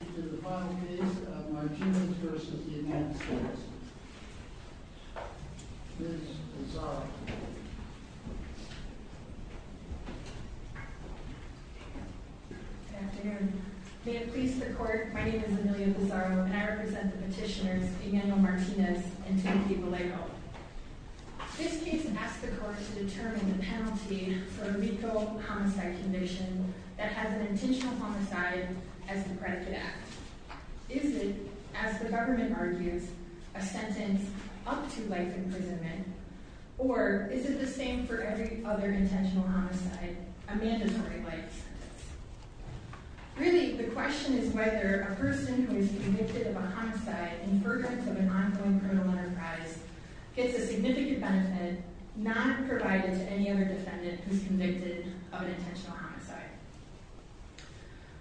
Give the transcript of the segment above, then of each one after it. The final case of Martinez v. United States. Ms. Pizarro. Good afternoon. May it please the court, my name is Amelia Pizarro and I represent the petitioners Emanuel Martinez and Timothy Vallejo. This case asks the court to determine the penalty for a legal homicide conviction that has an intentional homicide as the predicate act. Is it, as the government argues, a sentence up to life imprisonment, or is it the same for every other intentional homicide, a mandatory life sentence? Really, the question is whether a person who is convicted of a homicide in fervent of an ongoing criminal enterprise gets a significant benefit not provided to any other defendant who is convicted of an intentional homicide.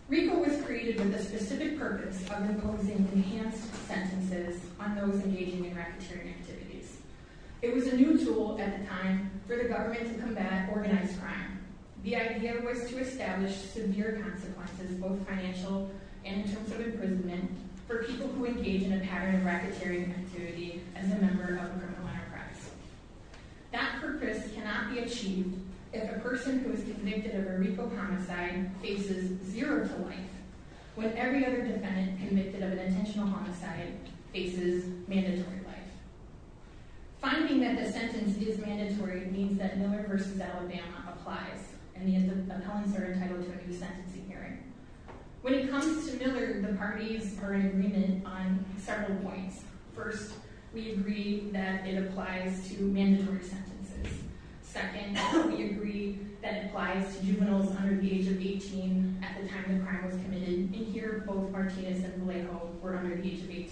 RICO was created with the specific purpose of imposing enhanced sentences on those engaging in racketeering activities. It was a new tool at the time for the government to combat organized crime. The idea was to establish severe consequences, both financial and in terms of imprisonment, for people who engage in a pattern of racketeering activity as a member of a criminal enterprise. That purpose cannot be achieved if a person who is convicted of a RICO homicide faces zero to life, when every other defendant convicted of an intentional homicide faces mandatory life. Finding that the sentence is mandatory means that Miller v. Alabama applies, and the appellants are entitled to a new sentencing hearing. When it comes to Miller, the parties were in agreement on several points. First, we agree that it applies to mandatory sentences. Second, we agree that it applies to juveniles under the age of 18 at the time the crime was committed, and here, both Martinez and Vallejo were under the age of 18.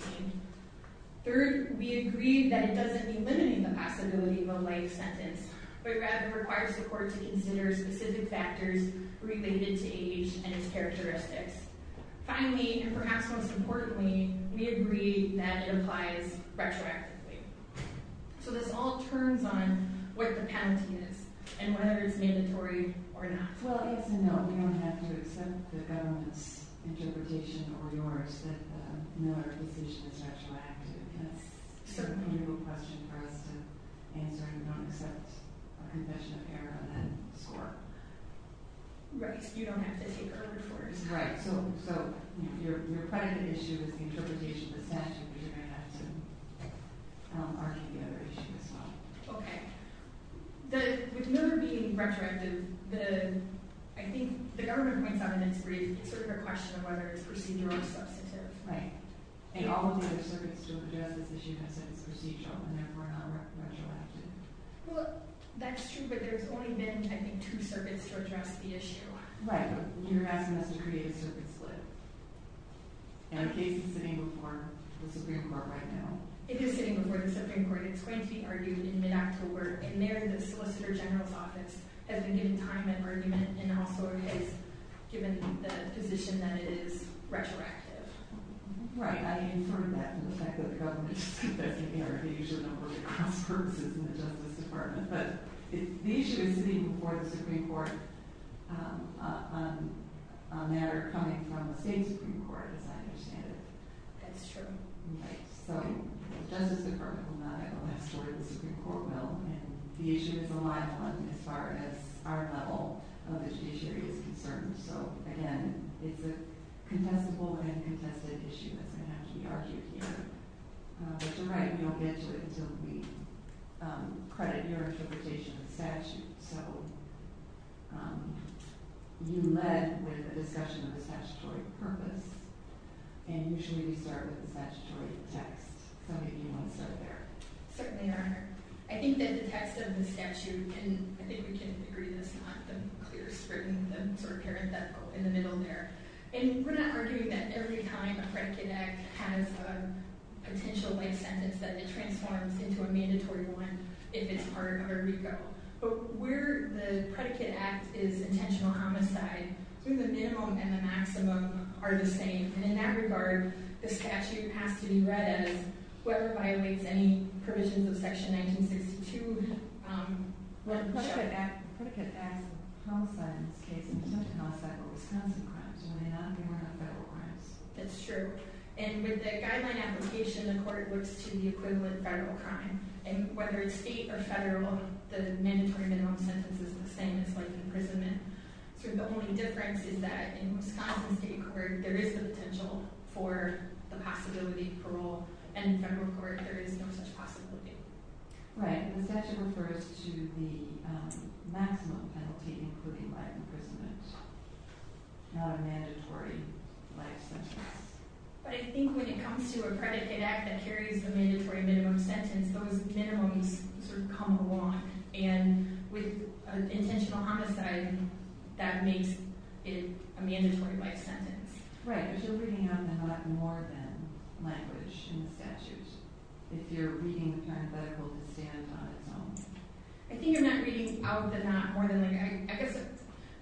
Third, we agree that it doesn't mean limiting the possibility of a life sentence, but rather requires the court to consider specific factors related to age and its characteristics. Finally, and perhaps most importantly, we agree that it applies retroactively. So this all turns on what the penalty is and whether it's mandatory or not. Well, yes and no. We don't have to accept the government's interpretation or yours that the Miller decision is retroactive. That's certainly a good question for us to answer. We don't accept a confession of error on that score. Right. You don't have to take over for us. Right. So your predicate issue is the interpretation of the statute, but you're going to have to argue the other issue as well. Okay. With Miller being retroactive, I think the government points out in its brief it's sort of a question of whether it's procedural or substantive. Right. And all of the other circuits to address this issue have said it's procedural and therefore not retroactive. Well, that's true, but there's only been, I think, two circuits to address the issue. Right, but you're asking us to create a circuit split. And the case is sitting before the Supreme Court right now. It is sitting before the Supreme Court. It's going to be argued in mid-October. And there, the Solicitor General's office has been giving time and argument and also has given the position that it is retroactive. Right. I inferred that from the fact that the government said that's an error. They usually don't work across purposes in the Justice Department. But the issue is sitting before the Supreme Court on a matter coming from the state Supreme Court, as I understand it. That's true. Right. So the Justice Department will not have a last word. The Supreme Court will. And the issue is a live one as far as our level of the judiciary is concerned. So, again, it's a contestable and contested issue that's going to have to be argued here. But you're right, we don't get to it until we credit your interpretation of the statute. So you led with a discussion of the statutory purpose. And you should really start with the statutory text. Some of you want to start there. Certainly, Your Honor. I think that the text of the statute, and I think we can agree that it's not the clearest written, the sort of parenthetical in the middle there. And we're not arguing that every time a credit connect has a potential life sentence that it transforms into a mandatory one if it's part of a recall. But where the predicate act is intentional homicide, I think the minimum and the maximum are the same. And in that regard, the statute has to be read as whoever violates any provisions of Section 1962. Well, the predicate act is a homicide in this case. It's not just a homicide, but Wisconsin crimes. It may not be one of the federal crimes. That's true. And with the guideline application, the court looks to the equivalent federal crime. And whether it's state or federal, the mandatory minimum sentence is the same as life imprisonment. So the only difference is that in Wisconsin state court, there is the potential for the possibility of parole. And in federal court, there is no such possibility. Right. The statute refers to the maximum penalty, including life imprisonment, not a mandatory life sentence. But I think when it comes to a predicate act that carries the mandatory minimum sentence, those minimums sort of come along. And with intentional homicide, that makes it a mandatory life sentence. Right. But you're reading out the not more than language in the statute if you're reading the parenthetical to stand on its own. I think you're not reading out the not more than.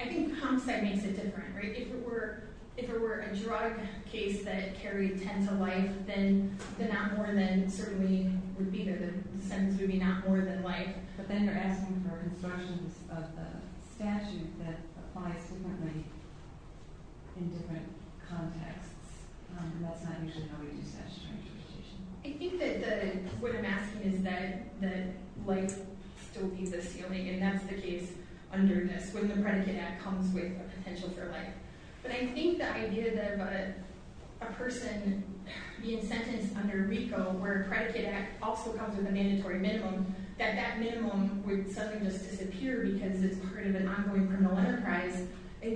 I think homicide makes it different, right? If it were a drug case that carried 10 to life, then the not more than certainly would be there. The sentence would be not more than life. But then you're asking for instructions of the statute that applies differently in different contexts. And that's not usually how we do statutory interpretation. I think that what I'm asking is that life still be the ceiling. And that's the case under this, when the predicate act comes with a potential for life. But I think the idea of a person being sentenced under RICO, where a predicate act also comes with a mandatory minimum, that that minimum would suddenly just disappear because it's part of an ongoing criminal enterprise,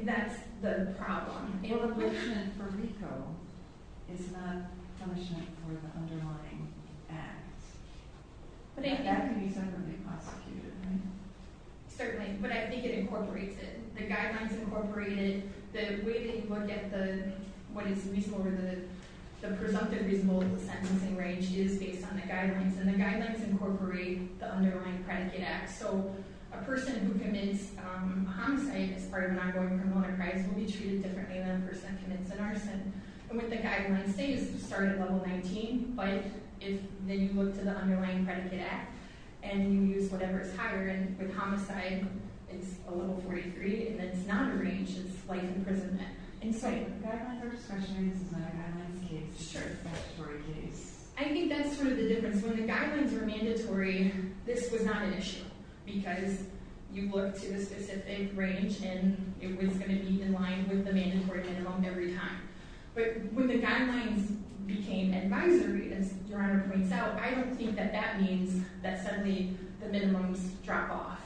that's the problem. Well, a punishment for RICO is not punishment for the underlying act. That can be separately prosecuted, right? Certainly. But I think it incorporates it. The guidelines incorporate it. The way that you look at what is reasonable or the presumptive reasonable of the sentencing range is based on the guidelines. And the guidelines incorporate the underlying predicate act. So a person who commits homicide as part of an ongoing criminal enterprise will be treated differently than a person who commits an arson. And what the guidelines say is start at level 19. But then you look to the underlying predicate act, and you use whatever is higher. And with homicide, it's a level 43. And it's not a range. It's life imprisonment. So the guidelines are discretionary. This is not a guidelines case. It's a statutory case. I think that's sort of the difference. When the guidelines were mandatory, this was not an issue because you looked to a specific range, and it was going to be in line with the mandatory minimum every time. But when the guidelines became advisory, as Your Honor points out, I don't think that that means that suddenly the minimums drop off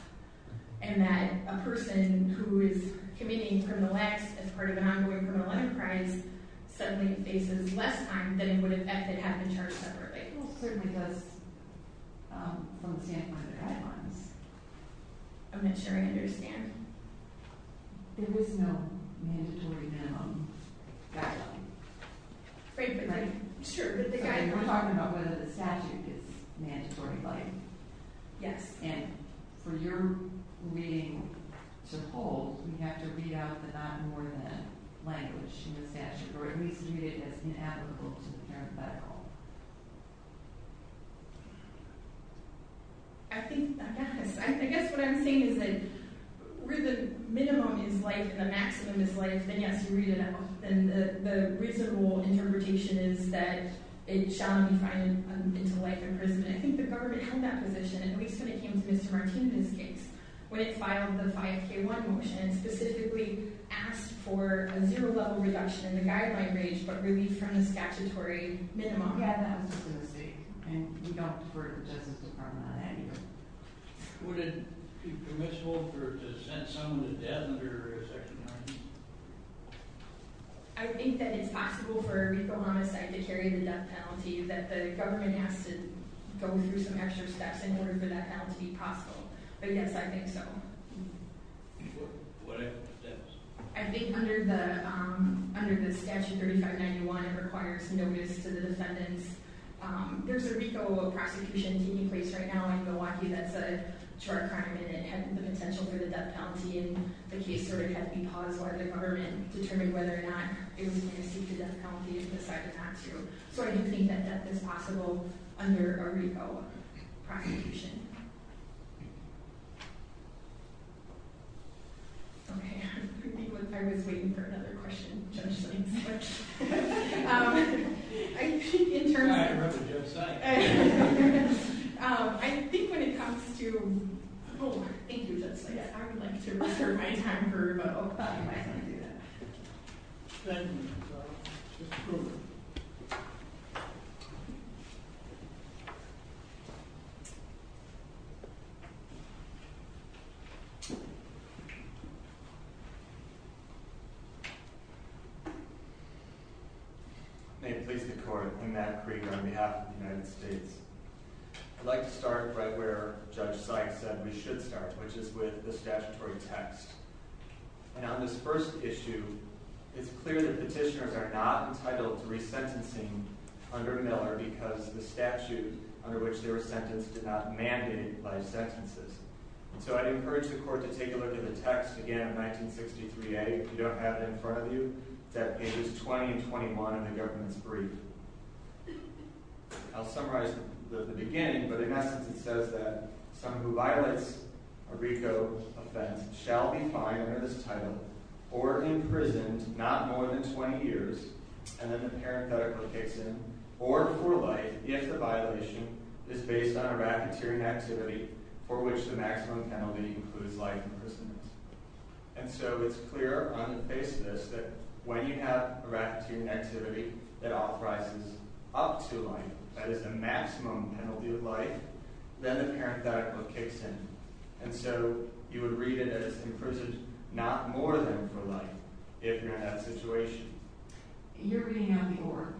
and that a person who is committing criminal acts as part of an ongoing criminal enterprise suddenly faces less time than it would have if it had been charged separately. Well, it certainly does from the standpoint of the guidelines. I'm not sure I understand. There is no mandatory minimum guideline. Right. Sure. But the guidelines... We're talking about whether the statute is mandatory, right? Yes. And for your reading to hold, we have to read out the not more than language in the statute, or at least read it as inapplicable to the parenthetical. I think... I guess. I guess what I'm saying is that where the minimum is life and the maximum is life, then, yes, you read it out. And the reasonable interpretation is that it shall not be defined into life imprisonment. I think the government held that position, at least when it came to Ms. Martinez's case, when it filed the 5K1 motion and specifically asked for a zero-level reduction in the guideline range, but really from the statutory minimum. Yeah, that was just a mistake. And we don't defer to the Justice Department on that either. Would it be permissible for it to sentence someone to death under Section 90? I think that it's possible for a RICO homicide to carry the death penalty, that the government has to go through some extra steps in order for that penalty to be possible. But yes, I think so. What are the steps? I think under the statute 3591, it requires notice to the defendants. There's a RICO prosecution taking place right now in Milwaukee that's a charged crime, and it had the potential for the death penalty. And the case sort of had to be paused while the government determined whether or not it was going to seek the death penalty. It decided not to. So I do think that death is possible under a RICO prosecution. Okay. I was waiting for another question. Judge Sykes. I think when it comes to... Oh, thank you, Judge Sykes. I would like to reserve my time for about five minutes. May it please the Court. I'm Matt Krieger on behalf of the United States. I'd like to start right where Judge Sykes said we should start, which is with the statutory text. And on this first issue, it's clear that petitioners are not entitled to resentencing under Miller because the statute under which they were sentenced did not mandate life sentences. So I'd encourage the Court to take a look at the text again of 1963a. If you don't have it in front of you, it's at pages 20 and 21 in the government's brief. I'll summarize the beginning, but in essence it says that someone who violates a RICO offense shall be fined under this title or imprisoned not more than 20 years, and then the parenthetical kicks in, or for life if the violation is based on a racketeering activity for which the maximum penalty includes life imprisonment. And so it's clear on the basis that when you have a racketeering activity that authorizes up to life, that is the maximum penalty of life, then the parenthetical kicks in. And so you would read it as imprisoned not more than for life if you're in that situation. You're reading out the oar.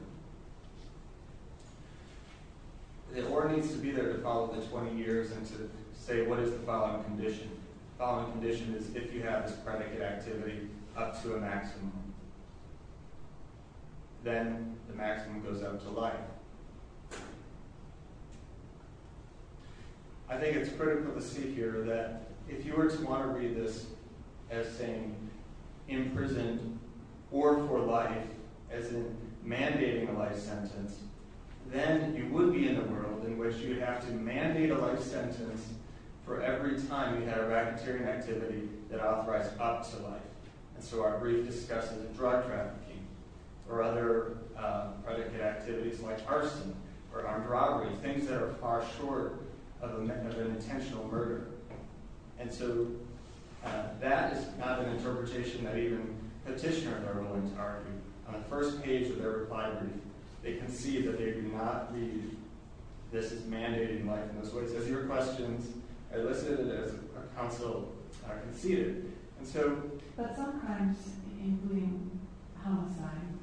The oar needs to be there to follow the 20 years and to say what is the following condition. The following condition is if you have this predicate activity up to a maximum, then the maximum goes out to life. I think it's critical to see here that if you were to want to read this as saying imprisoned or for life, as in mandating a life sentence, then you would be in a world in which you would have to mandate a life sentence for every time you had a racketeering activity that authorized up to life. And so our brief discusses drug trafficking or other predicate activities like arson or armed robbery, things that are far short of an intentional murder. And so that is not an interpretation that even petitioners are willing to argue. On the first page of their reply brief, they concede that they do not read this as mandating life in those ways. As your questions elicited, as counsel conceded. But some crimes, including homicide,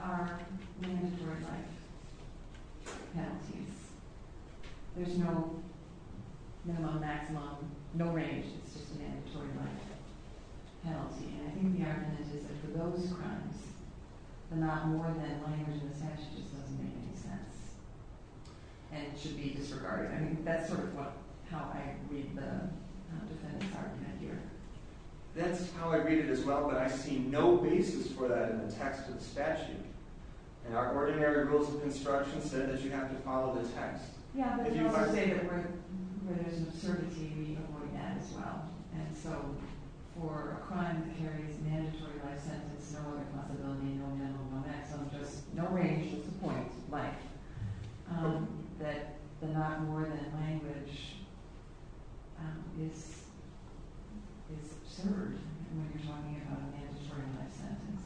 are mandatory life penalties. There's no minimum, maximum, no range. It's just a mandatory life penalty. And I think the argument is that for those crimes, the not more than language in the statute just doesn't make any sense and should be disregarded. I mean, that's sort of how I read the defendant's argument here. That's how I read it as well, but I see no basis for that in the text of the statute. And our ordinary rules of construction said that you have to follow the text. Yeah, but they also say that where there's an absurdity, we avoid that as well. And so for a crime that carries a mandatory life sentence, no other possibility, no minimum, no maximum, just no range. That's the point. That the not more than language is absurd when you're talking about a mandatory life sentence.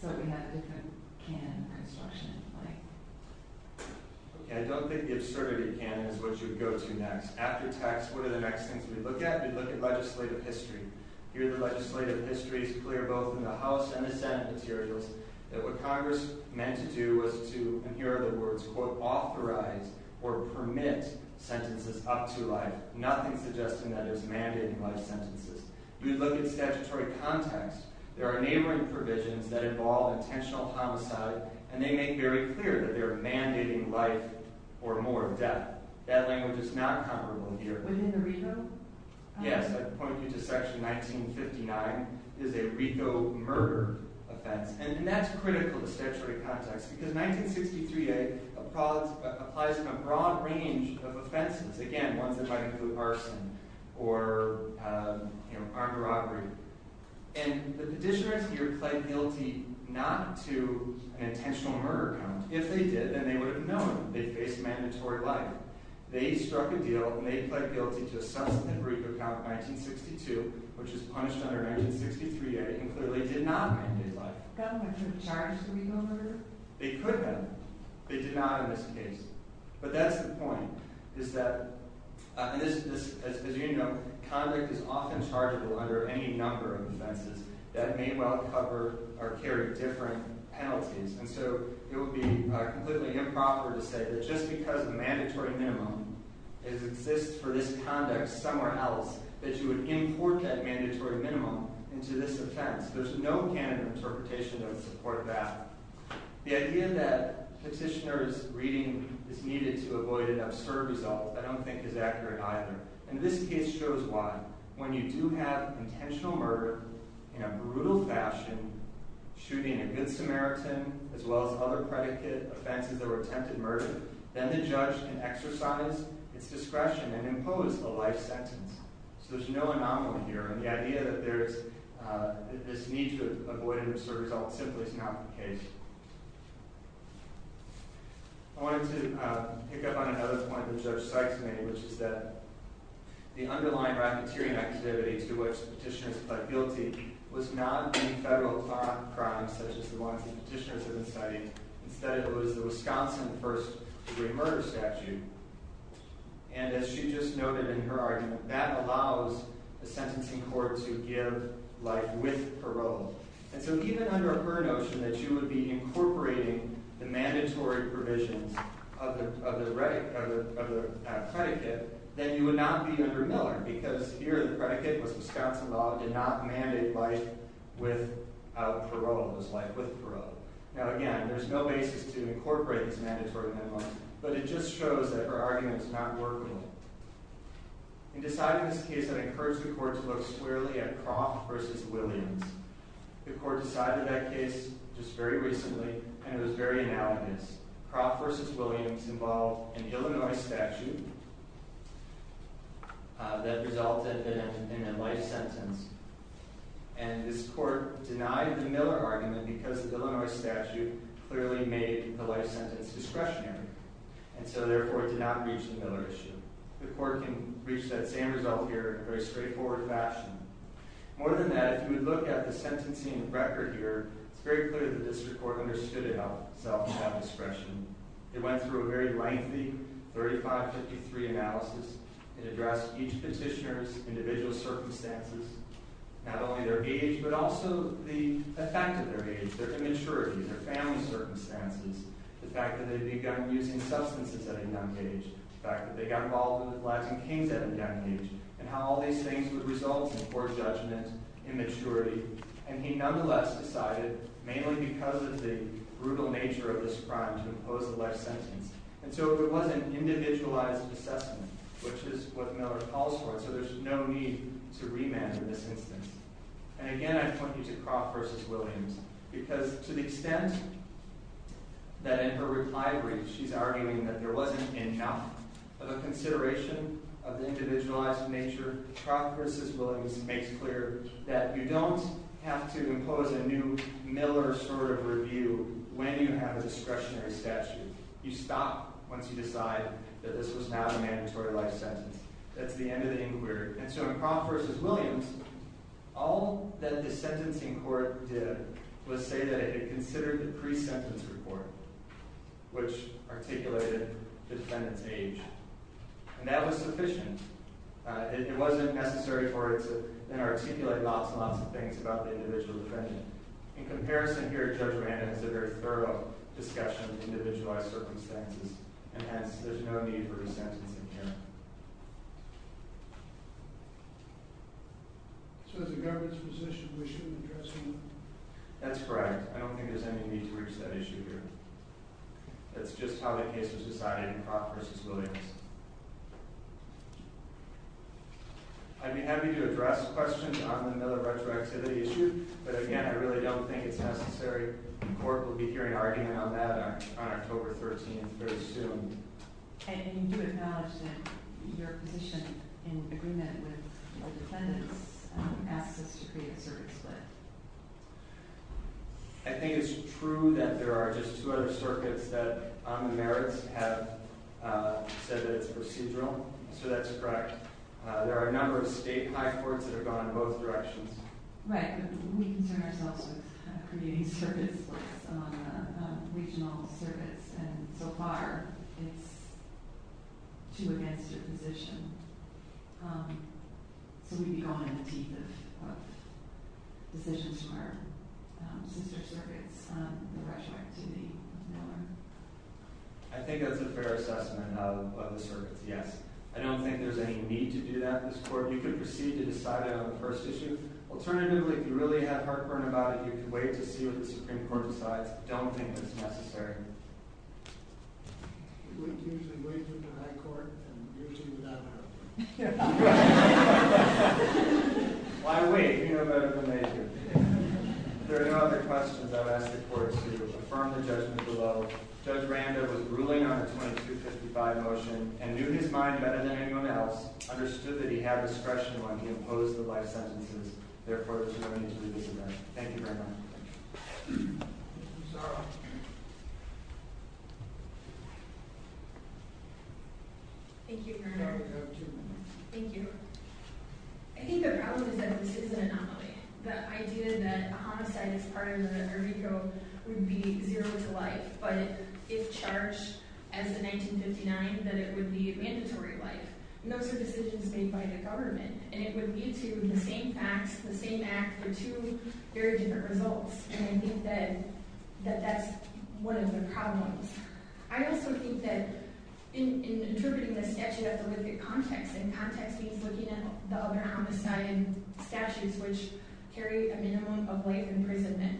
So we have a different canon of construction. Okay, I don't think the absurdity canon is what you'd go to next. After text, what are the next things we'd look at? We'd look at legislative history. Here, the legislative history is clear, both in the House and the Senate materials, that what Congress meant to do was to, and here are the words, quote, authorize or permit sentences up to life, nothing suggesting that there's mandated life sentences. You'd look at statutory context. There are neighboring provisions that involve intentional homicide, and they make very clear that they're mandating life or more death. That language is not comparable here. Within the RICO? Yes, I'd point you to section 1959, is a RICO murder offense. And that's critical to statutory context, because 1963a applies in a broad range of offenses. Again, ones that might include arson or armed robbery. And the petitioners here pled guilty not to an intentional murder count. If they did, then they would have known they faced mandatory life. They struck a deal, and they pled guilty to a substantive RICO count of 1962, which is punished under 1963a, and clearly did not mandate life. Government should have charged the RICO murder? They could have. They did not in this case. But that's the point, is that, as you know, convict is often chargeable under any number of offenses that may well cover or carry different penalties. And so it would be completely improper to say that just because a mandatory minimum exists for this conduct somewhere else, that you would import that mandatory minimum into this offense. There's no candid interpretation that would support that. The idea that petitioner's reading is needed to avoid an absurd result I don't think is accurate either. And this case shows why. When you do have intentional murder in a brutal fashion, shooting a good Samaritan as well as other predicate offenses that were attempted murder, then the judge can exercise its discretion and impose a life sentence. So there's no anomaly here. And the idea that there's this need to avoid an absurd result simply is not the case. I wanted to pick up on another point that Judge Sykes made, which is that the underlying racketeering activity to which the petitioners pled guilty was not in federal crimes such as the ones the petitioners have been citing. Instead, it was the Wisconsin first-degree murder statute. And as she just noted in her argument, that allows the sentencing court to give life with parole. And so even under her notion that you would be incorporating the mandatory provisions of the predicate, then you would not be under Miller, because here the predicate was Wisconsin law. It did not mandate life without parole. It was life with parole. Now, again, there's no basis to incorporate this mandatory minimum, but it just shows that her argument is not working. In deciding this case, I've encouraged the court to look squarely at Croft v. Williams. The court decided that case just very recently, and it was very analogous. Croft v. Williams involved an Illinois statute that resulted in a life sentence. And this court denied the Miller argument because the Illinois statute clearly made the life sentence discretionary. And so, therefore, it did not reach the Miller issue. The court can reach that same result here in a very straightforward fashion. More than that, if you would look at the sentencing record here, it's very clear that the district court understood itself without discretion. It went through a very lengthy 3553 analysis. It addressed each petitioner's individual circumstances, not only their age, but also the effect of their age, their immaturity, their family circumstances, the fact that they'd begun using substances at a young age, the fact that they got involved with Latin kings at a young age, and how all these things would result in poor judgment, immaturity. And he nonetheless decided, mainly because of the brutal nature of this crime, to impose a life sentence. And so it was an individualized assessment, which is what Miller calls for, so there's no need to remand in this instance. And again, I point you to Croft v. Williams, because to the extent that in her reply brief she's arguing that there wasn't enough of a consideration of the individualized nature, Croft v. Williams makes clear that you don't have to impose a new Miller sort of review when you have a discretionary statute. You stop once you decide that this was not a mandatory life sentence. That's the end of the inquiry. And so in Croft v. Williams, all that the sentencing court did was say that it had considered the pre-sentence report, which articulated the defendant's age. And that was sufficient. It wasn't necessary for it to then articulate lots and lots of things about the individual defendant. In comparison here, Judge Randa has a very thorough discussion of individualized circumstances, and hence there's no need for resentencing here. So as a government's position, we shouldn't address Miller? That's correct. I don't think there's any need to reach that issue here. That's just how the case was decided in Croft v. Williams. I'd be happy to address questions on the Miller retroactivity issue, but again, I really don't think it's necessary. The court will be hearing argument on that on October 13th, very soon. And you acknowledge that your position in agreement with the defendants asks us to create a circuit split. I think it's true that there are just two other circuits that on the merits have said that it's procedural, so that's correct. There are a number of state high courts that have gone in both directions. Right, but we concern ourselves with creating circuit splits on regional circuits, and so far it's too against your position. So we'd be going in the teeth of decisions from our sister circuits on the retroactivity of Miller. I think that's a fair assessment of the circuits, yes. I don't think there's any need to do that in this court. You could proceed to decide it on the first issue. Alternatively, if you really have heartburn about it, you could wait to see what the Supreme Court decides. I don't think that's necessary. We usually wait for the high court, and usually without heartburn. Why wait? We know better than they do. If there are no other questions, I would ask the court to affirm the judgment below. Judge Randa was grueling on the 2255 motion and knew his mind better than anyone else, understood that he had discretion when he opposed the life sentences. Therefore, there's no need to do this again. Thank you very much. Thank you, Sarah. Thank you, Your Honor. You have two minutes. Thank you. I think the problem is that this is an anomaly. The idea that a homicide as part of the Verdi Code would be zero to life, but if charged as a 1959, then it would be a mandatory life. Those are decisions made by the government, and it would lead to the same facts, the same act, or two very different results. I think that that's one of the problems. I also think that in interpreting the statute, I have to look at context. Context means looking at the other homicide statutes, which carry a minimum of life imprisonment.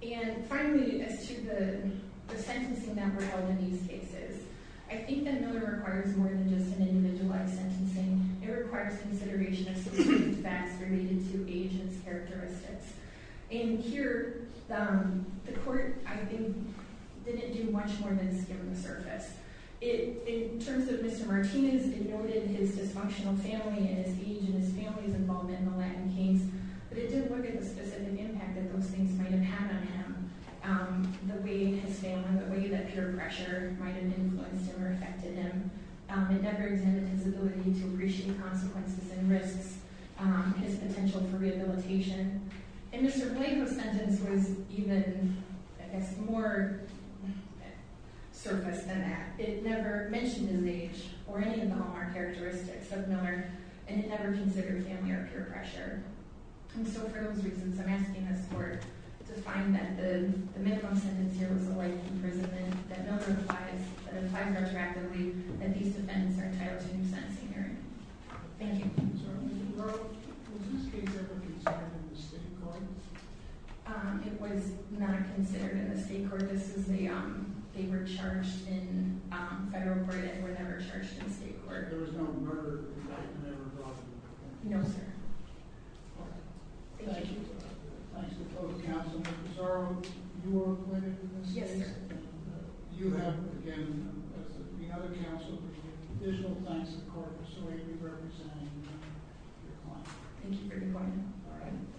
And finally, as to the sentencing that were held in these cases, I think that another requires more than just an individualized sentencing. It requires consideration of specific facts related to agents' characteristics. And here, the court, I think, didn't do much more than skim the surface. In terms of Mr. Martinez, it noted his dysfunctional family and his age and his family's involvement in the Latin case, but it didn't look at the specific impact that those things might have had on him, the way his family, the way that peer pressure might have influenced him or affected him. It never examined his ability to appreciate consequences and risks, his potential for rehabilitation. And Mr. Blanco's sentence was even, I guess, more surfaced than that. It never mentioned his age or any of the hallmark characteristics of Miller, and it never considered family or peer pressure. And so, for those reasons, I'm asking this court to find that the minimum sentence here was a life imprisonment, that Miller applies retroactively, that these defendants are entitled to new sentencing hearing. Thank you. So, in the world, was this case ever charged in the state court? It was not considered in the state court. They were charged in federal court, and were never charged in state court. There was no murder, and that was never brought to the court? No, sir. All right. Thank you. Thanks to both counsel. Ms. Sorrell, you are acquitted in this case? Yes, sir. You have, again, as the other counsel, additional thanks to the court for so eagerly representing your client. Thank you for your time.